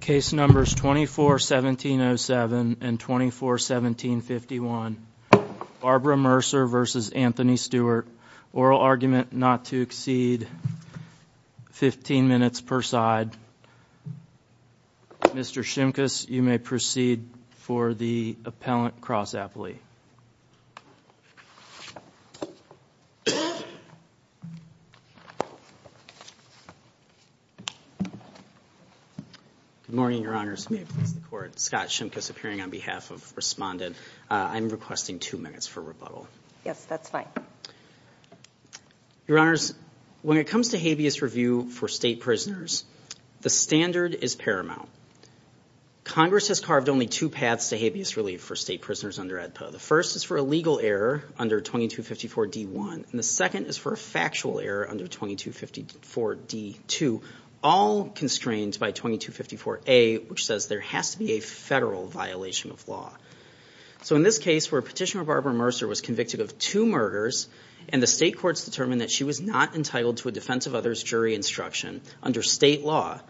Case numbers 241707 and 241751. Barbara Mercer v. Anthony Stewart. Oral argument not to exceed 15 minutes per side. Mr. Shimkus, you may proceed for the appellant cross-appellate. Good morning, Your Honors. Scott Shimkus appearing on behalf of Respondent. I'm requesting two minutes for rebuttal. Yes, that's fine. Your Honors, when it comes to habeas review for state prisoners, the standard is paramount. Congress has carved only two paths to habeas relief for state prisoners under AEDPA. The first is for a legal error under 2254 D1. And the second is for a factual error under 2254 D2, all constrained by 2254 A, which says there has to be a federal violation of law. So in this case where Petitioner Barbara Mercer was convicted of two murders and the state courts determined that she was not entitled to a defense of others jury instruction under state law,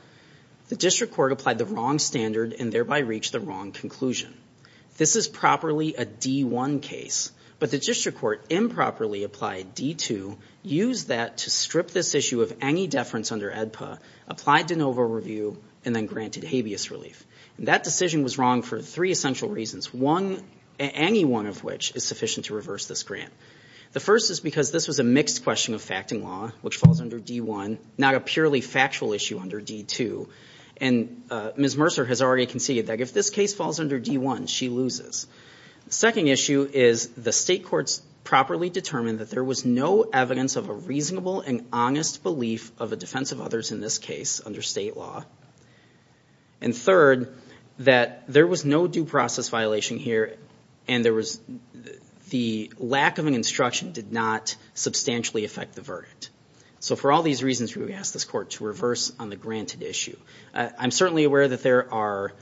the district court applied the wrong standard and thereby reached the wrong conclusion. This is properly a D1 case, but the district court improperly applied D2, used that to strip this issue of any deference under AEDPA, applied de novo review, and then granted habeas relief. That decision was wrong for three essential reasons, any one of which is sufficient to reverse this grant. The first is because this was a mixed question of fact and law, which falls under D1, not a purely factual issue under D2. And Ms. Mercer has already conceded that if this case falls under D1, she loses. The second issue is the state courts properly determined that there was no evidence of a reasonable and honest belief of a defense of others in this case under state law. And third, that there was no due process violation here and the lack of an instruction did not substantially affect the verdict. So for all these reasons, we would ask this court to reverse on the granted issue. I'm certainly aware that there are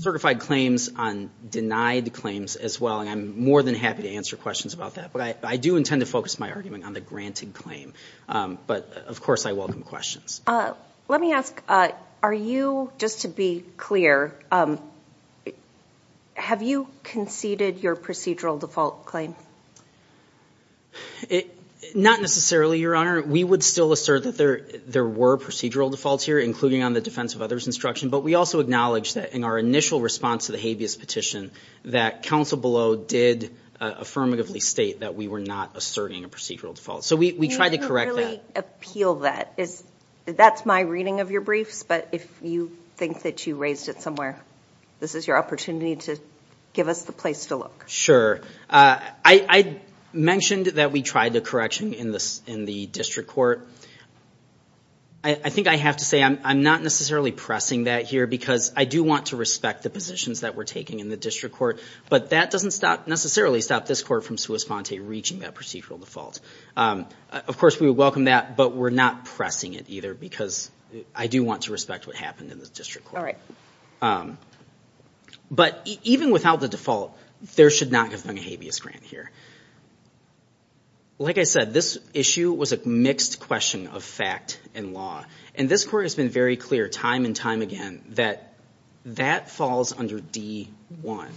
certified claims on denied claims as well, and I'm more than happy to answer questions about that. But I do intend to focus my argument on the granted claim, but of course I welcome questions. Let me ask, are you, just to be clear, have you conceded your procedural default claim? Not necessarily, Your Honor. We would still assert that there were procedural defaults here, including on the defense of others instruction. But we also acknowledge that in our initial response to the habeas petition, that counsel below did affirmatively state that we were not asserting a procedural default. So we try to correct that. Can you really appeal that? That's my reading of your briefs, but if you think that you raised it somewhere, this is your opportunity to give us the place to look. Sure. I mentioned that we tried the correction in the district court. I think I have to say I'm not necessarily pressing that here because I do want to respect the positions that we're taking in the district court. But that doesn't necessarily stop this court from sua sponte reaching that procedural default. Of course, we would welcome that, but we're not pressing it either because I do want to respect what happened in the district court. But even without the default, there should not have been a habeas grant here. Like I said, this issue was a mixed question of fact and law. And this court has been very clear time and time again that that falls under D-1.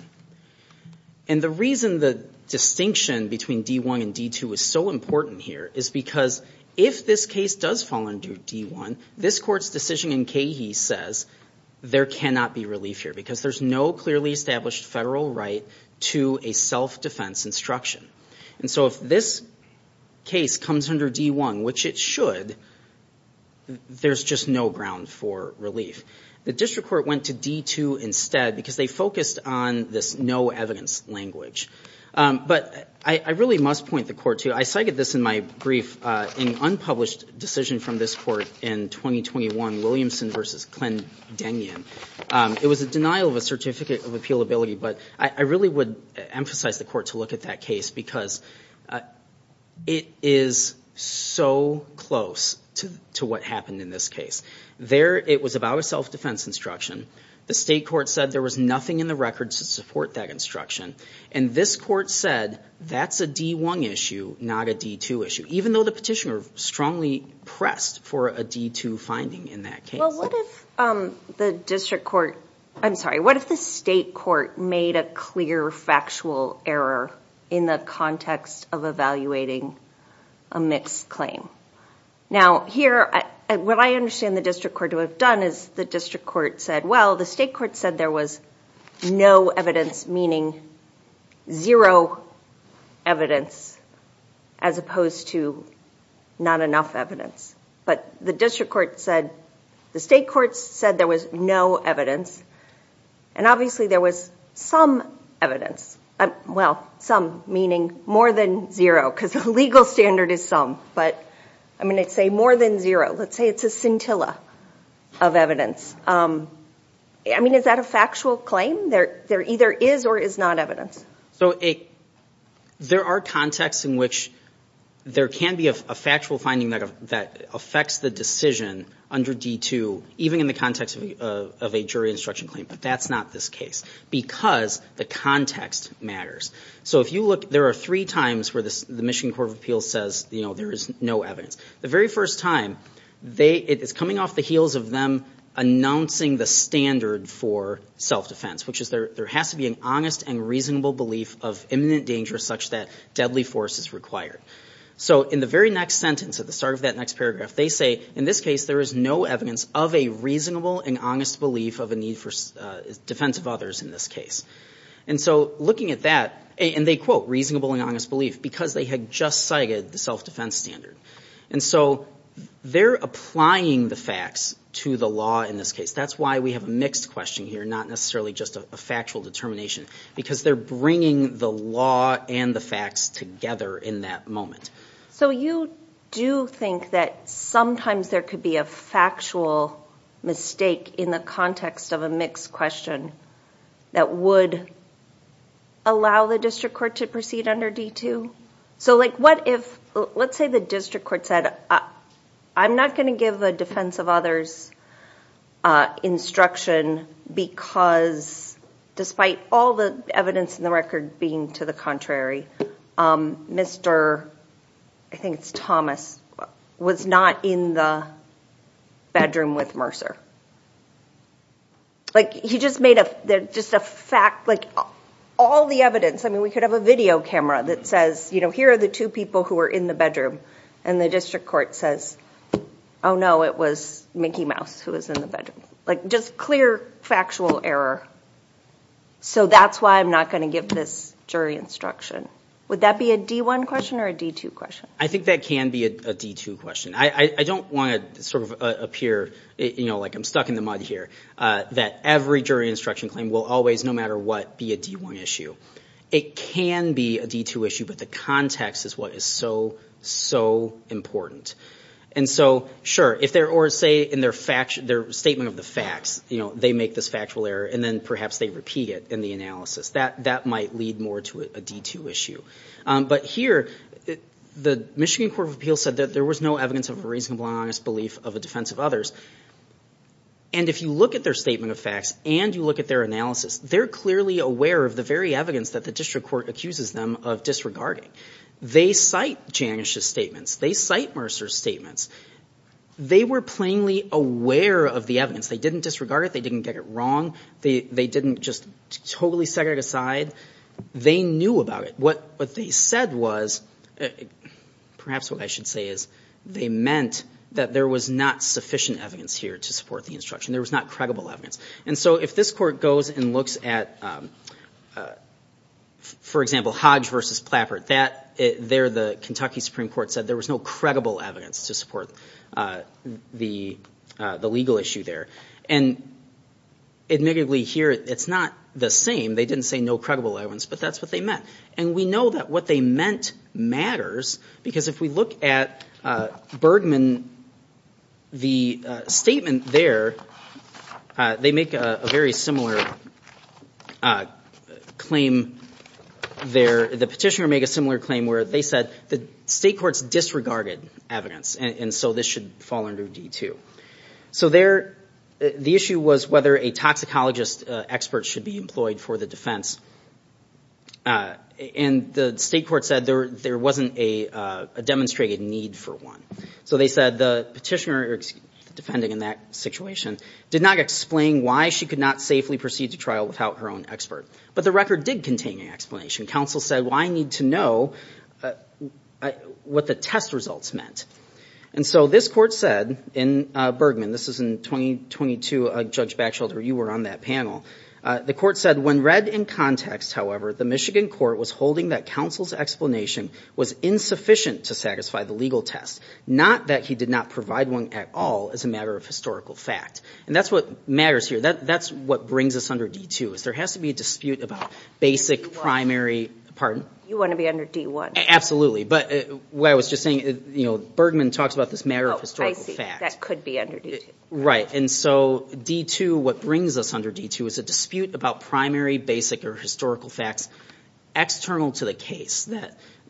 And the reason the distinction between D-1 and D-2 is so important here is because if this case does fall under D-1, this court's decision in Cahey says there cannot be relief here because there's no clearly established federal right to a self-defense instruction. And so if this case comes under D-1, which it should, there's just no ground for relief. The district court went to D-2 instead because they focused on this no evidence language. But I really must point the court to I cited this in my brief in unpublished decision from this court in 2021, Williamson v. It was a denial of a certificate of appealability. But I really would emphasize the court to look at that case because it is so close to what happened in this case. There it was about a self-defense instruction. The state court said there was nothing in the records to support that instruction. And this court said that's a D-1 issue, not a D-2 issue, even though the petitioner strongly pressed for a D-2 finding in that case. Well, what if the district court, I'm sorry. What if the state court made a clear factual error in the context of evaluating a mixed claim? Now, here, what I understand the district court to have done is the district court said, well, the state court said there was no evidence, meaning zero evidence as opposed to not enough evidence. But the district court said the state court said there was no evidence. And obviously, there was some evidence. Well, some meaning more than zero because the legal standard is some. But I mean, it's a more than zero. Let's say it's a scintilla of evidence. I mean, is that a factual claim? There either is or is not evidence. So there are contexts in which there can be a factual finding that affects the decision under D-2, even in the context of a jury instruction claim. But that's not this case because the context matters. So if you look, there are three times where the Michigan Court of Appeals says, you know, there is no evidence. The very first time, it is coming off the heels of them announcing the standard for self-defense, which is there has to be an honest and reasonable belief of imminent danger such that deadly force is required. So in the very next sentence, at the start of that next paragraph, they say, in this case, there is no evidence of a reasonable and honest belief of a need for defense of others in this case. And so looking at that, and they quote reasonable and honest belief because they had just cited the self-defense standard. And so they're applying the facts to the law in this case. That's why we have a mixed question here, not necessarily just a factual determination, because they're bringing the law and the facts together in that moment. So you do think that sometimes there could be a factual mistake in the context of a mixed question that would allow the district court to proceed under D-2? So like what if, let's say the district court said, I'm not going to give a defense of others instruction because despite all the evidence in the record being to the contrary, Mr. I think it's Thomas, was not in the bedroom with Mercer. Like he just made just a fact, like all the evidence. I mean, we could have a video camera that says, here are the two people who were in the bedroom. And the district court says, oh no, it was Mickey Mouse who was in the bedroom. Like just clear factual error. So that's why I'm not going to give this jury instruction. Would that be a D-1 question or a D-2 question? I think that can be a D-2 question. I don't want to sort of appear like I'm stuck in the mud here, that every jury instruction claim will always, no matter what, be a D-1 issue. It can be a D-2 issue, but the context is what is so, so important. And so, sure, or say in their statement of the facts, they make this factual error and then perhaps they repeat it in the analysis. That might lead more to a D-2 issue. But here, the Michigan Court of Appeals said that there was no evidence of a reasonable and honest belief of a defense of others. And if you look at their statement of facts and you look at their analysis, they're clearly aware of the very evidence that the district court accuses them of disregarding. They cite Janish's statements. They cite Mercer's statements. They were plainly aware of the evidence. They didn't disregard it. They didn't get it wrong. They didn't just totally set it aside. They knew about it. What they said was, perhaps what I should say is, they meant that there was not sufficient evidence here to support the instruction. There was not credible evidence. And so if this court goes and looks at, for example, Hodge v. Plappert, there the Kentucky Supreme Court said there was no credible evidence to support the legal issue there. And admittedly here, it's not the same. They didn't say no credible evidence, but that's what they meant. And we know that what they meant matters because if we look at Bergman, the statement there, they make a very similar claim there. The petitioner made a similar claim where they said the state courts disregarded evidence, and so this should fall under D2. So the issue was whether a toxicologist expert should be employed for the defense. And the state court said there wasn't a demonstrated need for one. So they said the petitioner defending in that situation did not explain why she could not safely proceed to trial without her own expert. But the record did contain an explanation. Counsel said, well, I need to know what the test results meant. And so this court said in Bergman, this is in 2022, Judge Backshelter, you were on that panel. The court said, when read in context, however, the Michigan court was holding that counsel's explanation was insufficient to satisfy the legal test, not that he did not provide one at all as a matter of historical fact. And that's what matters here. That's what brings us under D2 is there has to be a dispute about basic primary. You want to be under D1? Absolutely. But what I was just saying, Bergman talks about this matter of historical fact. That could be under D2. Right. And so D2, what brings us under D2 is a dispute about primary, basic, or historical facts external to the case.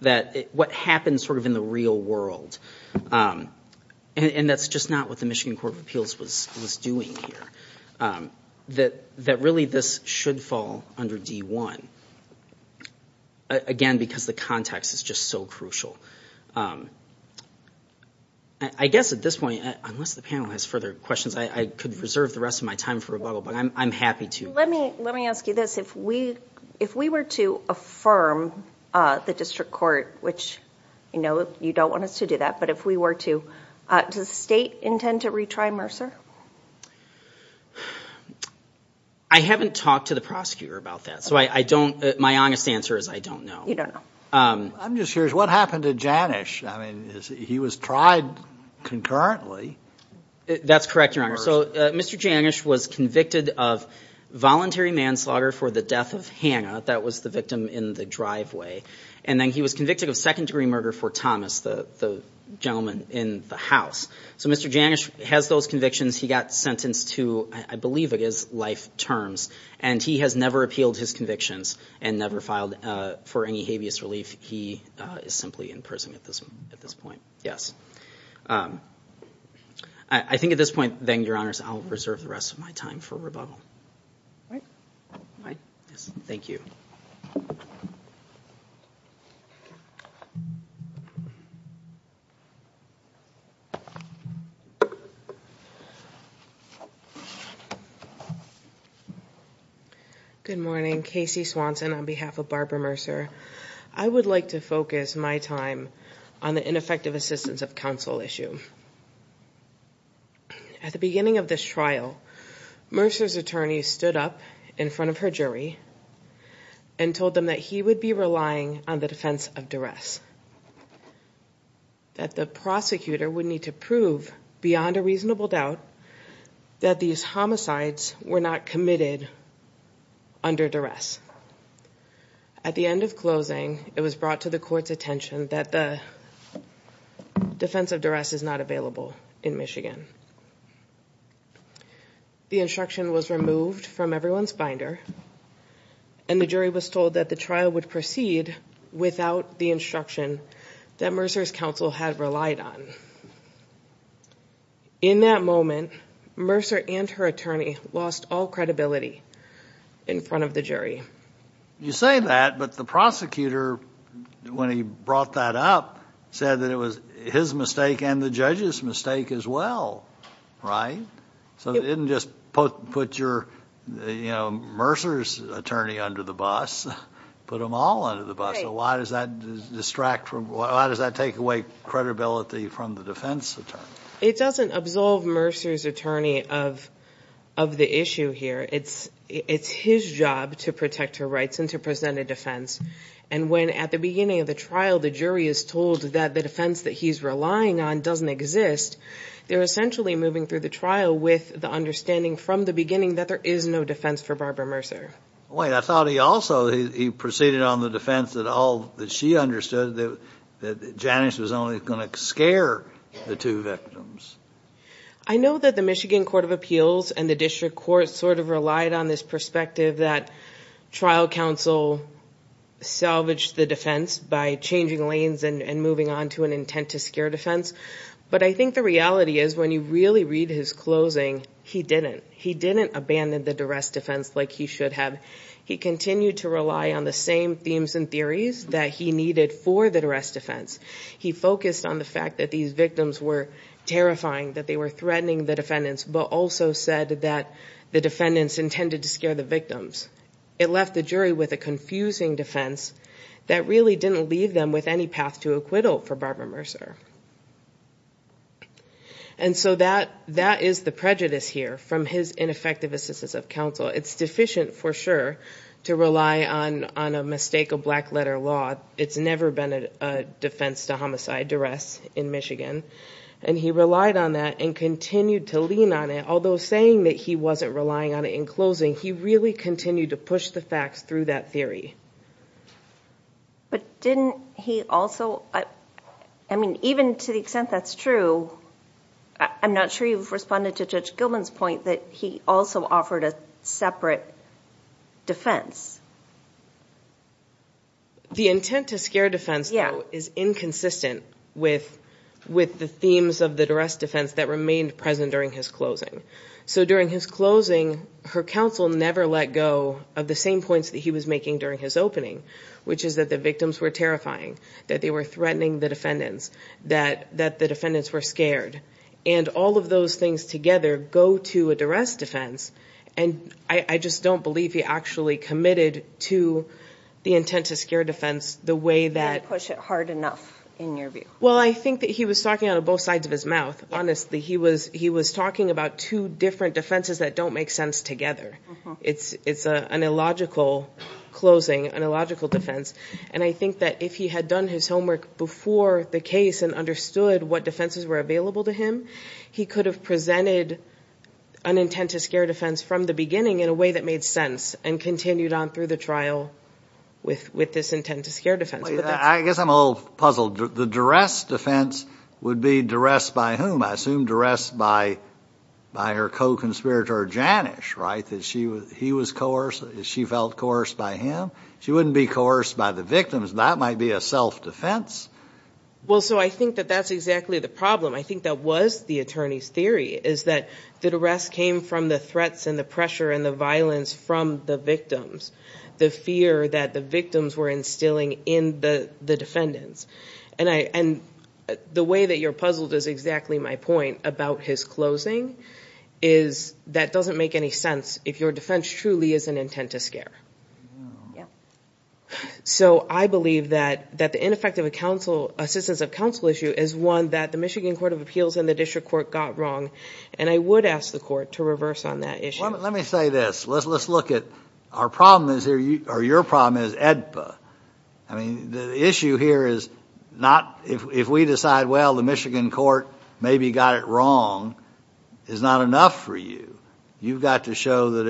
That what happens sort of in the real world. And that's just not what the Michigan Court of Appeals was doing here. That really this should fall under D1. Again, because the context is just so crucial. I guess at this point, unless the panel has further questions, I could reserve the rest of my time for rebuttal, but I'm happy to. Let me ask you this. If we were to affirm the district court, which you don't want us to do that, but if we were to, does the state intend to retry Mercer? I haven't talked to the prosecutor about that. So my honest answer is I don't know. You don't know. I'm just curious, what happened to Janish? I mean, he was tried concurrently. That's correct, Your Honor. So Mr. Janish was convicted of voluntary manslaughter for the death of Hannah. That was the victim in the driveway. And then he was convicted of second-degree murder for Thomas, the gentleman in the house. So Mr. Janish has those convictions. He got sentenced to, I believe it is, life terms. And he has never appealed his convictions and never filed for any habeas relief. He is simply in prison at this point. I think at this point, then, Your Honors, I'll reserve the rest of my time for rebuttal. Thank you. Good morning. Casey Swanson on behalf of Barbara Mercer. I would like to focus my time on the ineffective assistance of counsel issue. At the beginning of this trial, Mercer's attorney stood up in front of her jury and told them that he would be relying on the defense of duress, that the prosecutor would need to prove beyond a reasonable doubt that these homicides were not committed under duress. At the end of closing, it was brought to the court's attention that the defense of duress is not available in Michigan. The instruction was removed from everyone's binder, and the jury was told that the trial would proceed without the instruction that Mercer's counsel had relied on. In that moment, Mercer and her attorney lost all credibility in front of the jury. You say that, but the prosecutor, when he brought that up, said that it was his mistake and the judge's mistake as well, right? So it didn't just put your, you know, Mercer's attorney under the bus. Put them all under the bus. So why does that distract from, why does that take away credibility from the defense attorney? It doesn't absolve Mercer's attorney of the issue here. It's his job to protect her rights and to present a defense. And when, at the beginning of the trial, the jury is told that the defense that he's relying on doesn't exist, they're essentially moving through the trial with the understanding from the beginning that there is no defense for Barbara Mercer. Wait, I thought he also, he proceeded on the defense that all, that she understood that Janice was only going to scare the two victims. I know that the Michigan Court of Appeals and the District Court sort of relied on this perspective that trial counsel salvaged the defense by changing lanes and moving on to an intent to scare defense. But I think the reality is when you really read his closing, he didn't. He didn't abandon the duress defense like he should have. He continued to rely on the same themes and theories that he needed for the duress defense. He focused on the fact that these victims were terrifying, that they were threatening the defendants, but also said that the defendants intended to scare the victims. It left the jury with a confusing defense that really didn't leave them with any path to acquittal for Barbara Mercer. And so that is the prejudice here from his ineffective assistance of counsel. It's deficient for sure to rely on a mistake of black letter law. It's never been a defense to homicide duress in Michigan. And he relied on that and continued to lean on it, although saying that he wasn't relying on it in closing, he really continued to push the facts through that theory. But didn't he also, I mean, even to the extent that's true, I'm not sure you've responded to Judge Gilman's point that he also offered a separate defense. The intent to scare defense is inconsistent with the themes of the duress defense that remained present during his closing. So during his closing, her counsel never let go of the same points that he was making during his opening, which is that the victims were terrifying, that they were threatening the defendants, that the defendants were scared. And all of those things together go to a duress defense. And I just don't believe he actually committed to the intent to scare defense the way that... He didn't push it hard enough in your view. Well, I think that he was talking out of both sides of his mouth. Honestly, he was talking about two different defenses that don't make sense together. It's an illogical closing, an illogical defense. And I think that if he had done his homework before the case and understood what defenses were available to him, he could have presented an intent to scare defense from the beginning in a way that made sense and continued on through the trial with this intent to scare defense. I guess I'm a little puzzled. The duress defense would be duress by whom? I assume duress by her co-conspirator Janish, right? She felt coerced by him. She wouldn't be coerced by the victims. That might be a self-defense. Well, so I think that that's exactly the problem. I think that was the attorney's theory, is that the duress came from the threats and the pressure and the violence from the victims, the fear that the victims were instilling in the defendants. And the way that you're puzzled is exactly my point about his closing is that doesn't make any sense because your defense truly is an intent to scare. So I believe that the ineffective assistance of counsel issue is one that the Michigan Court of Appeals and the district court got wrong. And I would ask the court to reverse on that issue. Let me say this. Let's look at our problem, or your problem, is AEDPA. I mean, the issue here is not if we decide, well, the Michigan court maybe got it wrong, is not enough for you. You've got to show that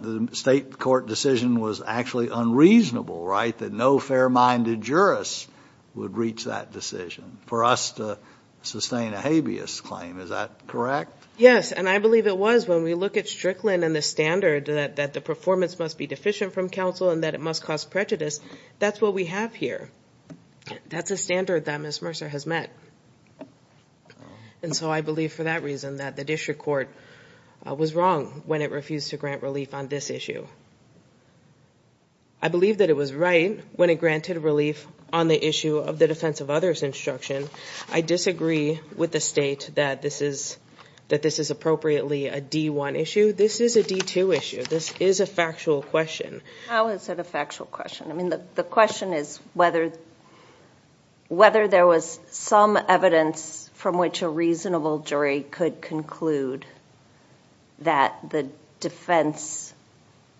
the state court decision was actually unreasonable, right? That no fair-minded jurist would reach that decision for us to sustain a habeas claim. Is that correct? Yes, and I believe it was. When we look at Strickland and the standard that the performance must be deficient from counsel and that it must cause prejudice, that's what we have here. That's a standard that Ms. Mercer has met. And so I believe for that reason that the district court was wrong when it refused to grant relief on this issue. I believe that it was right when it granted relief on the issue of the defense of others instruction. I disagree with the state that this is appropriately a D1 issue. This is a D2 issue. This is a factual question. How is it a factual question? I mean, the question is whether there was some evidence from which a reasonable jury could conclude that the defense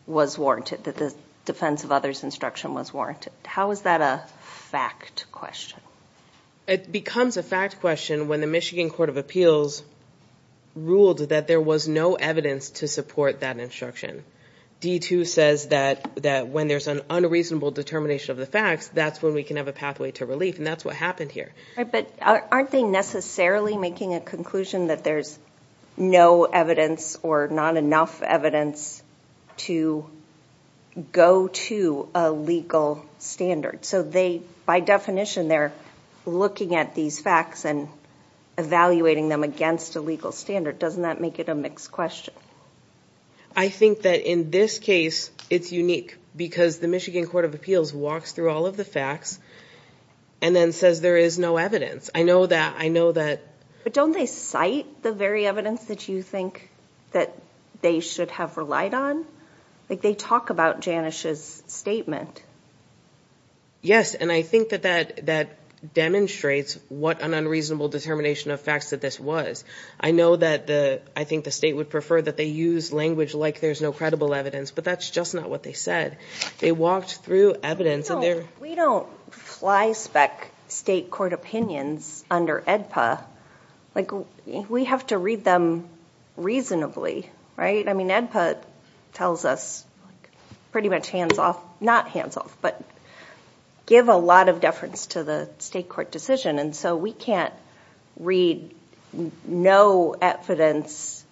was warranted, that the defense of others instruction was warranted. How is that a fact question? It becomes a fact question when the Michigan Court of Appeals ruled that there was no evidence to support that instruction. D2 says that when there's an unreasonable determination of the facts, that's when we can have a pathway to relief, and that's what happened here. But aren't they necessarily making a conclusion that there's no evidence or not enough evidence to go to a legal standard? So they, by definition, they're looking at these facts and evaluating them against a legal standard. Doesn't that make it a mixed question? I think that in this case, it's unique because the Michigan Court of Appeals walks through all of the facts and then says there is no evidence. I know that... But don't they cite the very evidence that you think that they should have relied on? Like, they talk about Janish's statement. Yes, and I think that that demonstrates what an unreasonable determination of facts that this was. I know that I think the state would prefer that they use language like there's no credible evidence, but that's just not what they said. They walked through evidence. We don't fly-spec state court opinions under AEDPA. We have to read them reasonably, right? I mean, AEDPA tells us pretty much hands-off, not hands-off, but give a lot of deference to the state court decision, and so we can't read no evidence.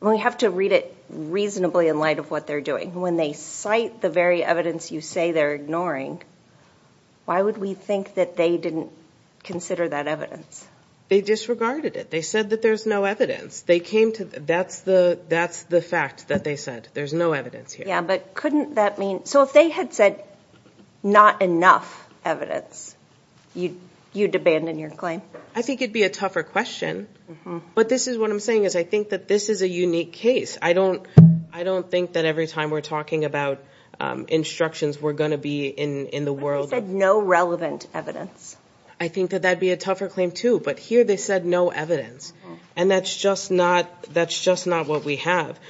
We have to read it reasonably in light of what they're doing. When they cite the very evidence you say they're ignoring, why would we think that they didn't consider that evidence? They disregarded it. They said that there's no evidence. That's the fact that they said. There's no evidence here. Yeah, but couldn't that mean... So if they had said not enough evidence, you'd abandon your claim? I think it'd be a tougher question, but this is what I'm saying is I think that this is a unique case. I don't think that every time we're talking about instructions we're going to be in the world... But they said no relevant evidence. I think that that'd be a tougher claim, too, but here they said no evidence, and that's just not what we have.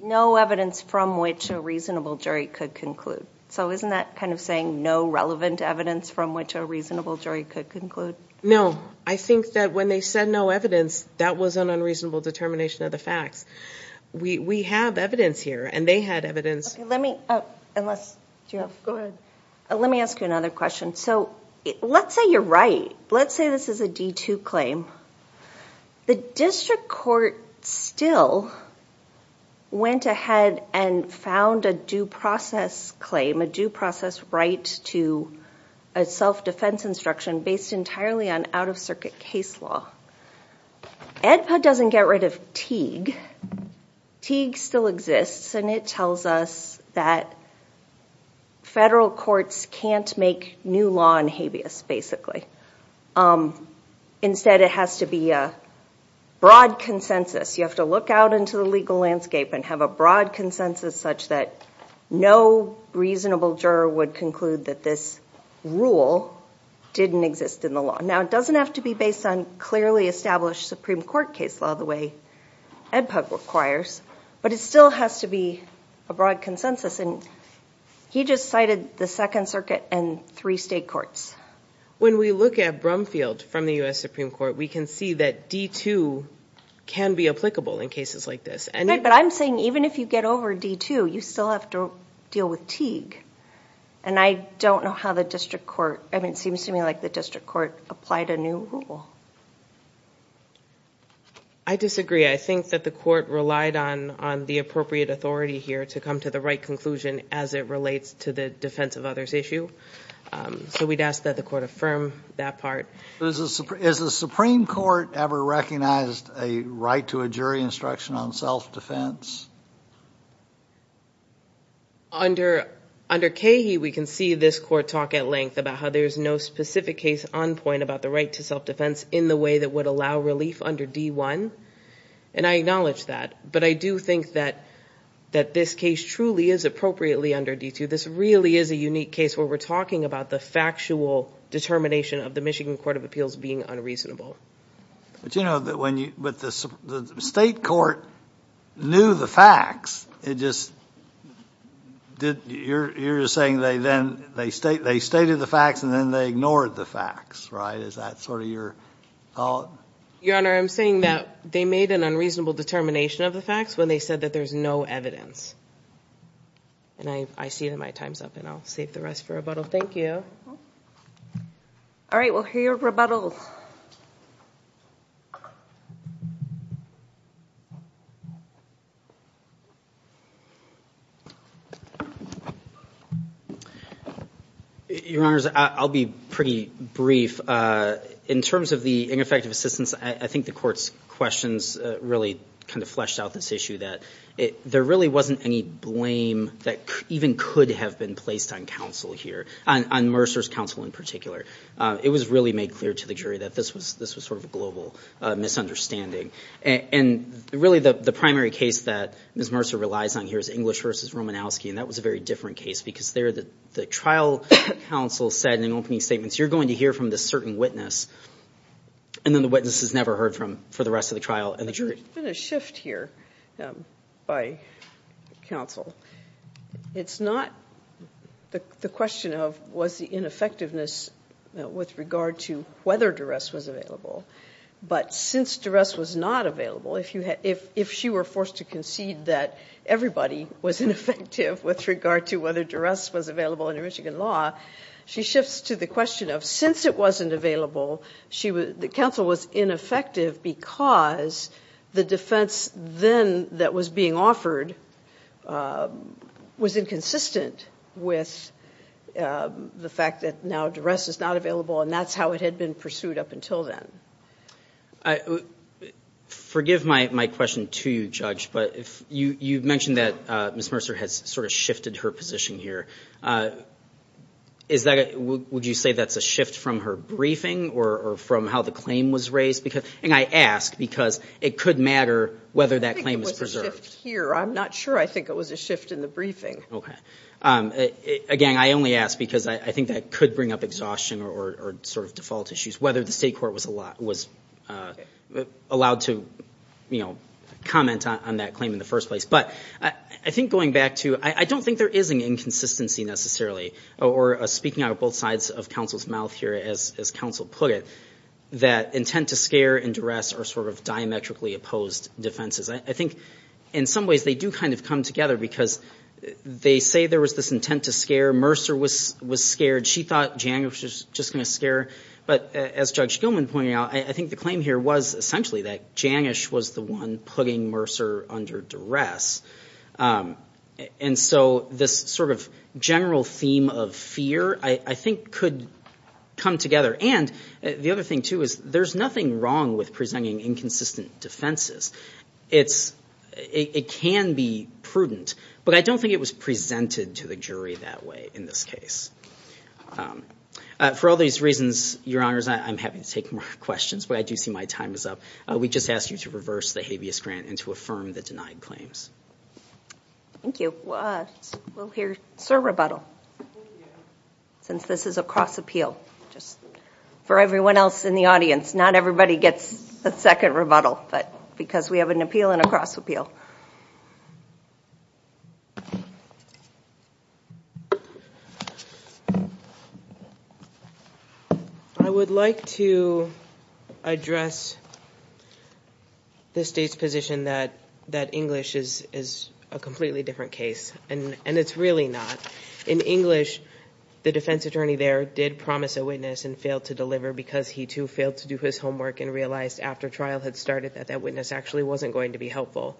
No evidence from which a reasonable jury could conclude. So isn't that kind of saying no relevant evidence from which a reasonable jury could conclude? No. I think that when they said no evidence, that was an unreasonable determination of the facts. We have evidence here, and they had evidence. Let me ask you another question. So let's say you're right. Let's say this is a D2 claim. The district court still went ahead and found a due process claim, a due process right to a self-defense instruction based entirely on out-of-circuit case law. EDPA doesn't get rid of TEAG. TEAG still exists, and it tells us that federal courts can't make new law in habeas, basically. Instead, it has to be a broad consensus. You have to look out into the legal landscape and have a broad consensus such that no reasonable juror would conclude that this rule didn't exist in the law. Now, it doesn't have to be based on clearly established Supreme Court case law the way EDPA requires, but it still has to be a broad consensus, and he just cited the Second Circuit and three state courts. When we look at Brumfield from the U.S. Supreme Court, we can see that D2 can be applicable in cases like this. Right, but I'm saying even if you get over D2, you still have to deal with TEAG, and I don't know how the district court, I mean, it seems to me like they've applied a new rule. I disagree. I think that the court relied on the appropriate authority here to come to the right conclusion as it relates to the defense of others issue. So we'd ask that the court affirm that part. Is the Supreme Court ever recognized a right to a jury instruction on self-defense? Under CAHIE, we can see this court talk at length about how there's no specific case on point about the right to self-defense in the way that would allow relief under D1, and I acknowledge that, but I do think that this case truly is appropriately under D2. This really is a unique case where we're talking about the factual determination of the Michigan Court of Appeals being unreasonable. But you know, the state court knew the facts. It just, you're just saying they then, they stated the facts and then they ignored the facts, right? Is that sort of your thought? Your Honor, I'm saying that they made an unreasonable determination of the facts when they said that there's no evidence. And I see that my time's up and I'll save the rest for rebuttal. Thank you. All right, we'll hear your rebuttal. Your Honors, I'll be pretty brief. In terms of the ineffective assistance, I think the court's questions really kind of fleshed out this issue that there really wasn't any blame that even could have been placed on counsel here, on Mercer's counsel in particular. It was really made clear to the jury that this was sort of a global misunderstanding. And really the primary case that Ms. Mercer relies on here is English v. Romanowski, and that was a very different case because there the trial counsel said in the opening statements, you're going to hear from this certain witness, and then the witness is never heard from for the rest of the trial and the jury. There's been a shift here by counsel. It's not the question of was the ineffectiveness with regard to whether duress was available, but since duress was not available, if she were forced to concede that everybody was ineffective with regard to whether duress was available under Michigan law, she was forced to the question of since it wasn't available, the counsel was ineffective because the defense then that was being offered was inconsistent with the fact that now duress is not available, and that's how it had been pursued up until then. Forgive my question to you, Judge, but you mentioned that Ms. Mercer has sort of shifted her position here. Would you say that's a shift from her briefing or from how the claim was raised? And I ask because it could matter whether that claim is preserved. I think it was a shift here. I'm not sure I think it was a shift in the briefing. Again, I only ask because I think that could bring up exhaustion or sort of default issues, whether the state court was allowed to comment on that claim in the first place, but I think going back to I don't think there is an inconsistency necessarily, or speaking out of both sides of counsel's mouth here, as counsel put it, that intent to scare and duress are sort of diametrically opposed defenses. I think in some ways they do kind of come together because they say there was this intent to scare. Mercer was scared. She thought Janish was just going to scare, but as Judge Gilman pointed out, I think the claim here was essentially that Janish was the one putting Mercer under duress. And so this sort of general theme of fear, I think could come together. And the other thing too is there's nothing wrong with presenting inconsistent defenses. It can be prudent, but I don't think it was presented to the jury that way in this case. For all these reasons, Your Honors, I'm happy to take more questions, but I do see my time is up. We just ask you to reverse the habeas grant and to affirm the denied claims. Thank you. We'll hear Sir rebuttal. Since this is a cross appeal, just for everyone else in the audience. Not everybody gets a second rebuttal, but because we have an appeal and a cross appeal. I would like to address the state's position that English is a completely different case. And it's really not. In English, the defense attorney there did promise a witness and failed to deliver because he too failed to do his homework and realized after trial had started that that witness actually wasn't going to be helpful.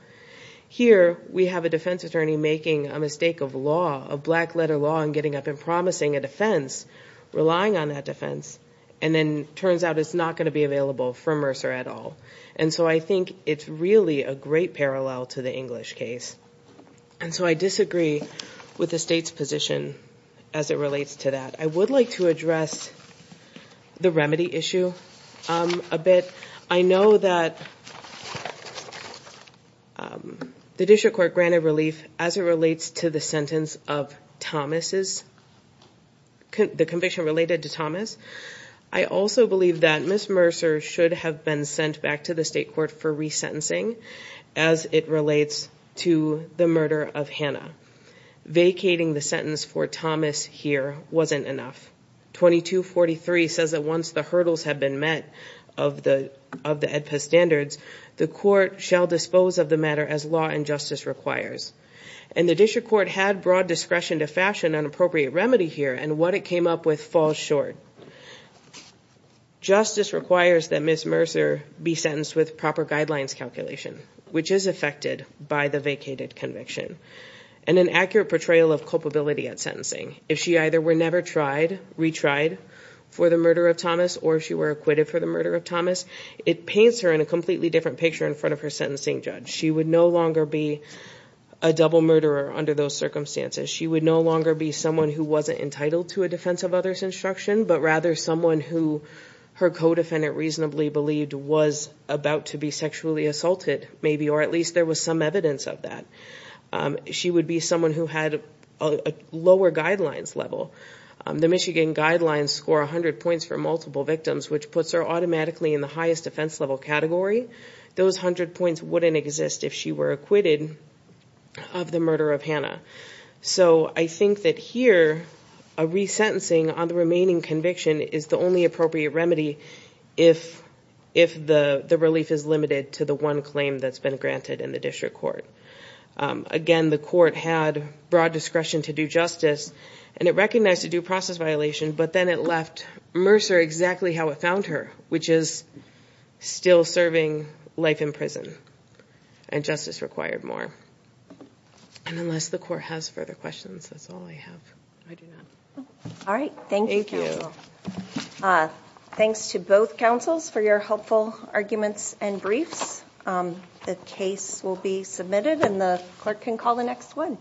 Here, we have a defense attorney making a mistake of law, of black letter law, and getting up and promising a defense, relying on that defense, and then it turns out it's not going to be available for Mercer at all. And so I think it's really a great parallel to the English case. And so I disagree with the state's position as it relates to that. I would like to address the remedy issue a bit. I know that the district court granted relief as it relates to the sentence of Thomas's, the conviction related to Thomas. I also believe that Ms. Mercer should have been sent back to the state court for resentencing as it relates to the murder of Hannah. Vacating the sentence for Thomas here wasn't enough. 2243 says that once the hurdles have been met of the EDPA standards, the court shall dispose of the matter as law and justice requires. And the district court had broad discretion to fashion an appropriate remedy here and what it came up with falls short. Justice requires that Ms. Mercer be sentenced with proper guidelines calculation which is affected by the vacated conviction and an accurate portrayal of culpability at sentencing. If she either were never tried, retried for the murder of Thomas or if she were acquitted for the murder of Thomas, it paints her in a completely different picture in front of her sentencing judge. She would no longer be a double murderer under those circumstances. She would no longer be someone who wasn't entitled to a defense of others instruction but rather someone who her co-defendant reasonably believed was about to be sexually assaulted maybe or at least there was some evidence of that. She would be someone who had a lower guidelines level. The Michigan Guidelines score 100 points for multiple victims which puts her automatically in the highest defense level category. Those 100 points wouldn't exist if she were acquitted of the murder of Hannah. So I think that here a resentencing on the remaining conviction is the only appropriate remedy if the relief is limited to the one claim that's been granted in the district court. Again, the court had broad discretion to do justice and it recognized a due process violation but then it left Mercer exactly how it found her which is still serving life in prison and justice required more. And unless the court has further questions, that's all I have. All right. Thank you. Thanks to both councils for your helpful arguments and briefs. The case will be submitted and the clerk can call the next one.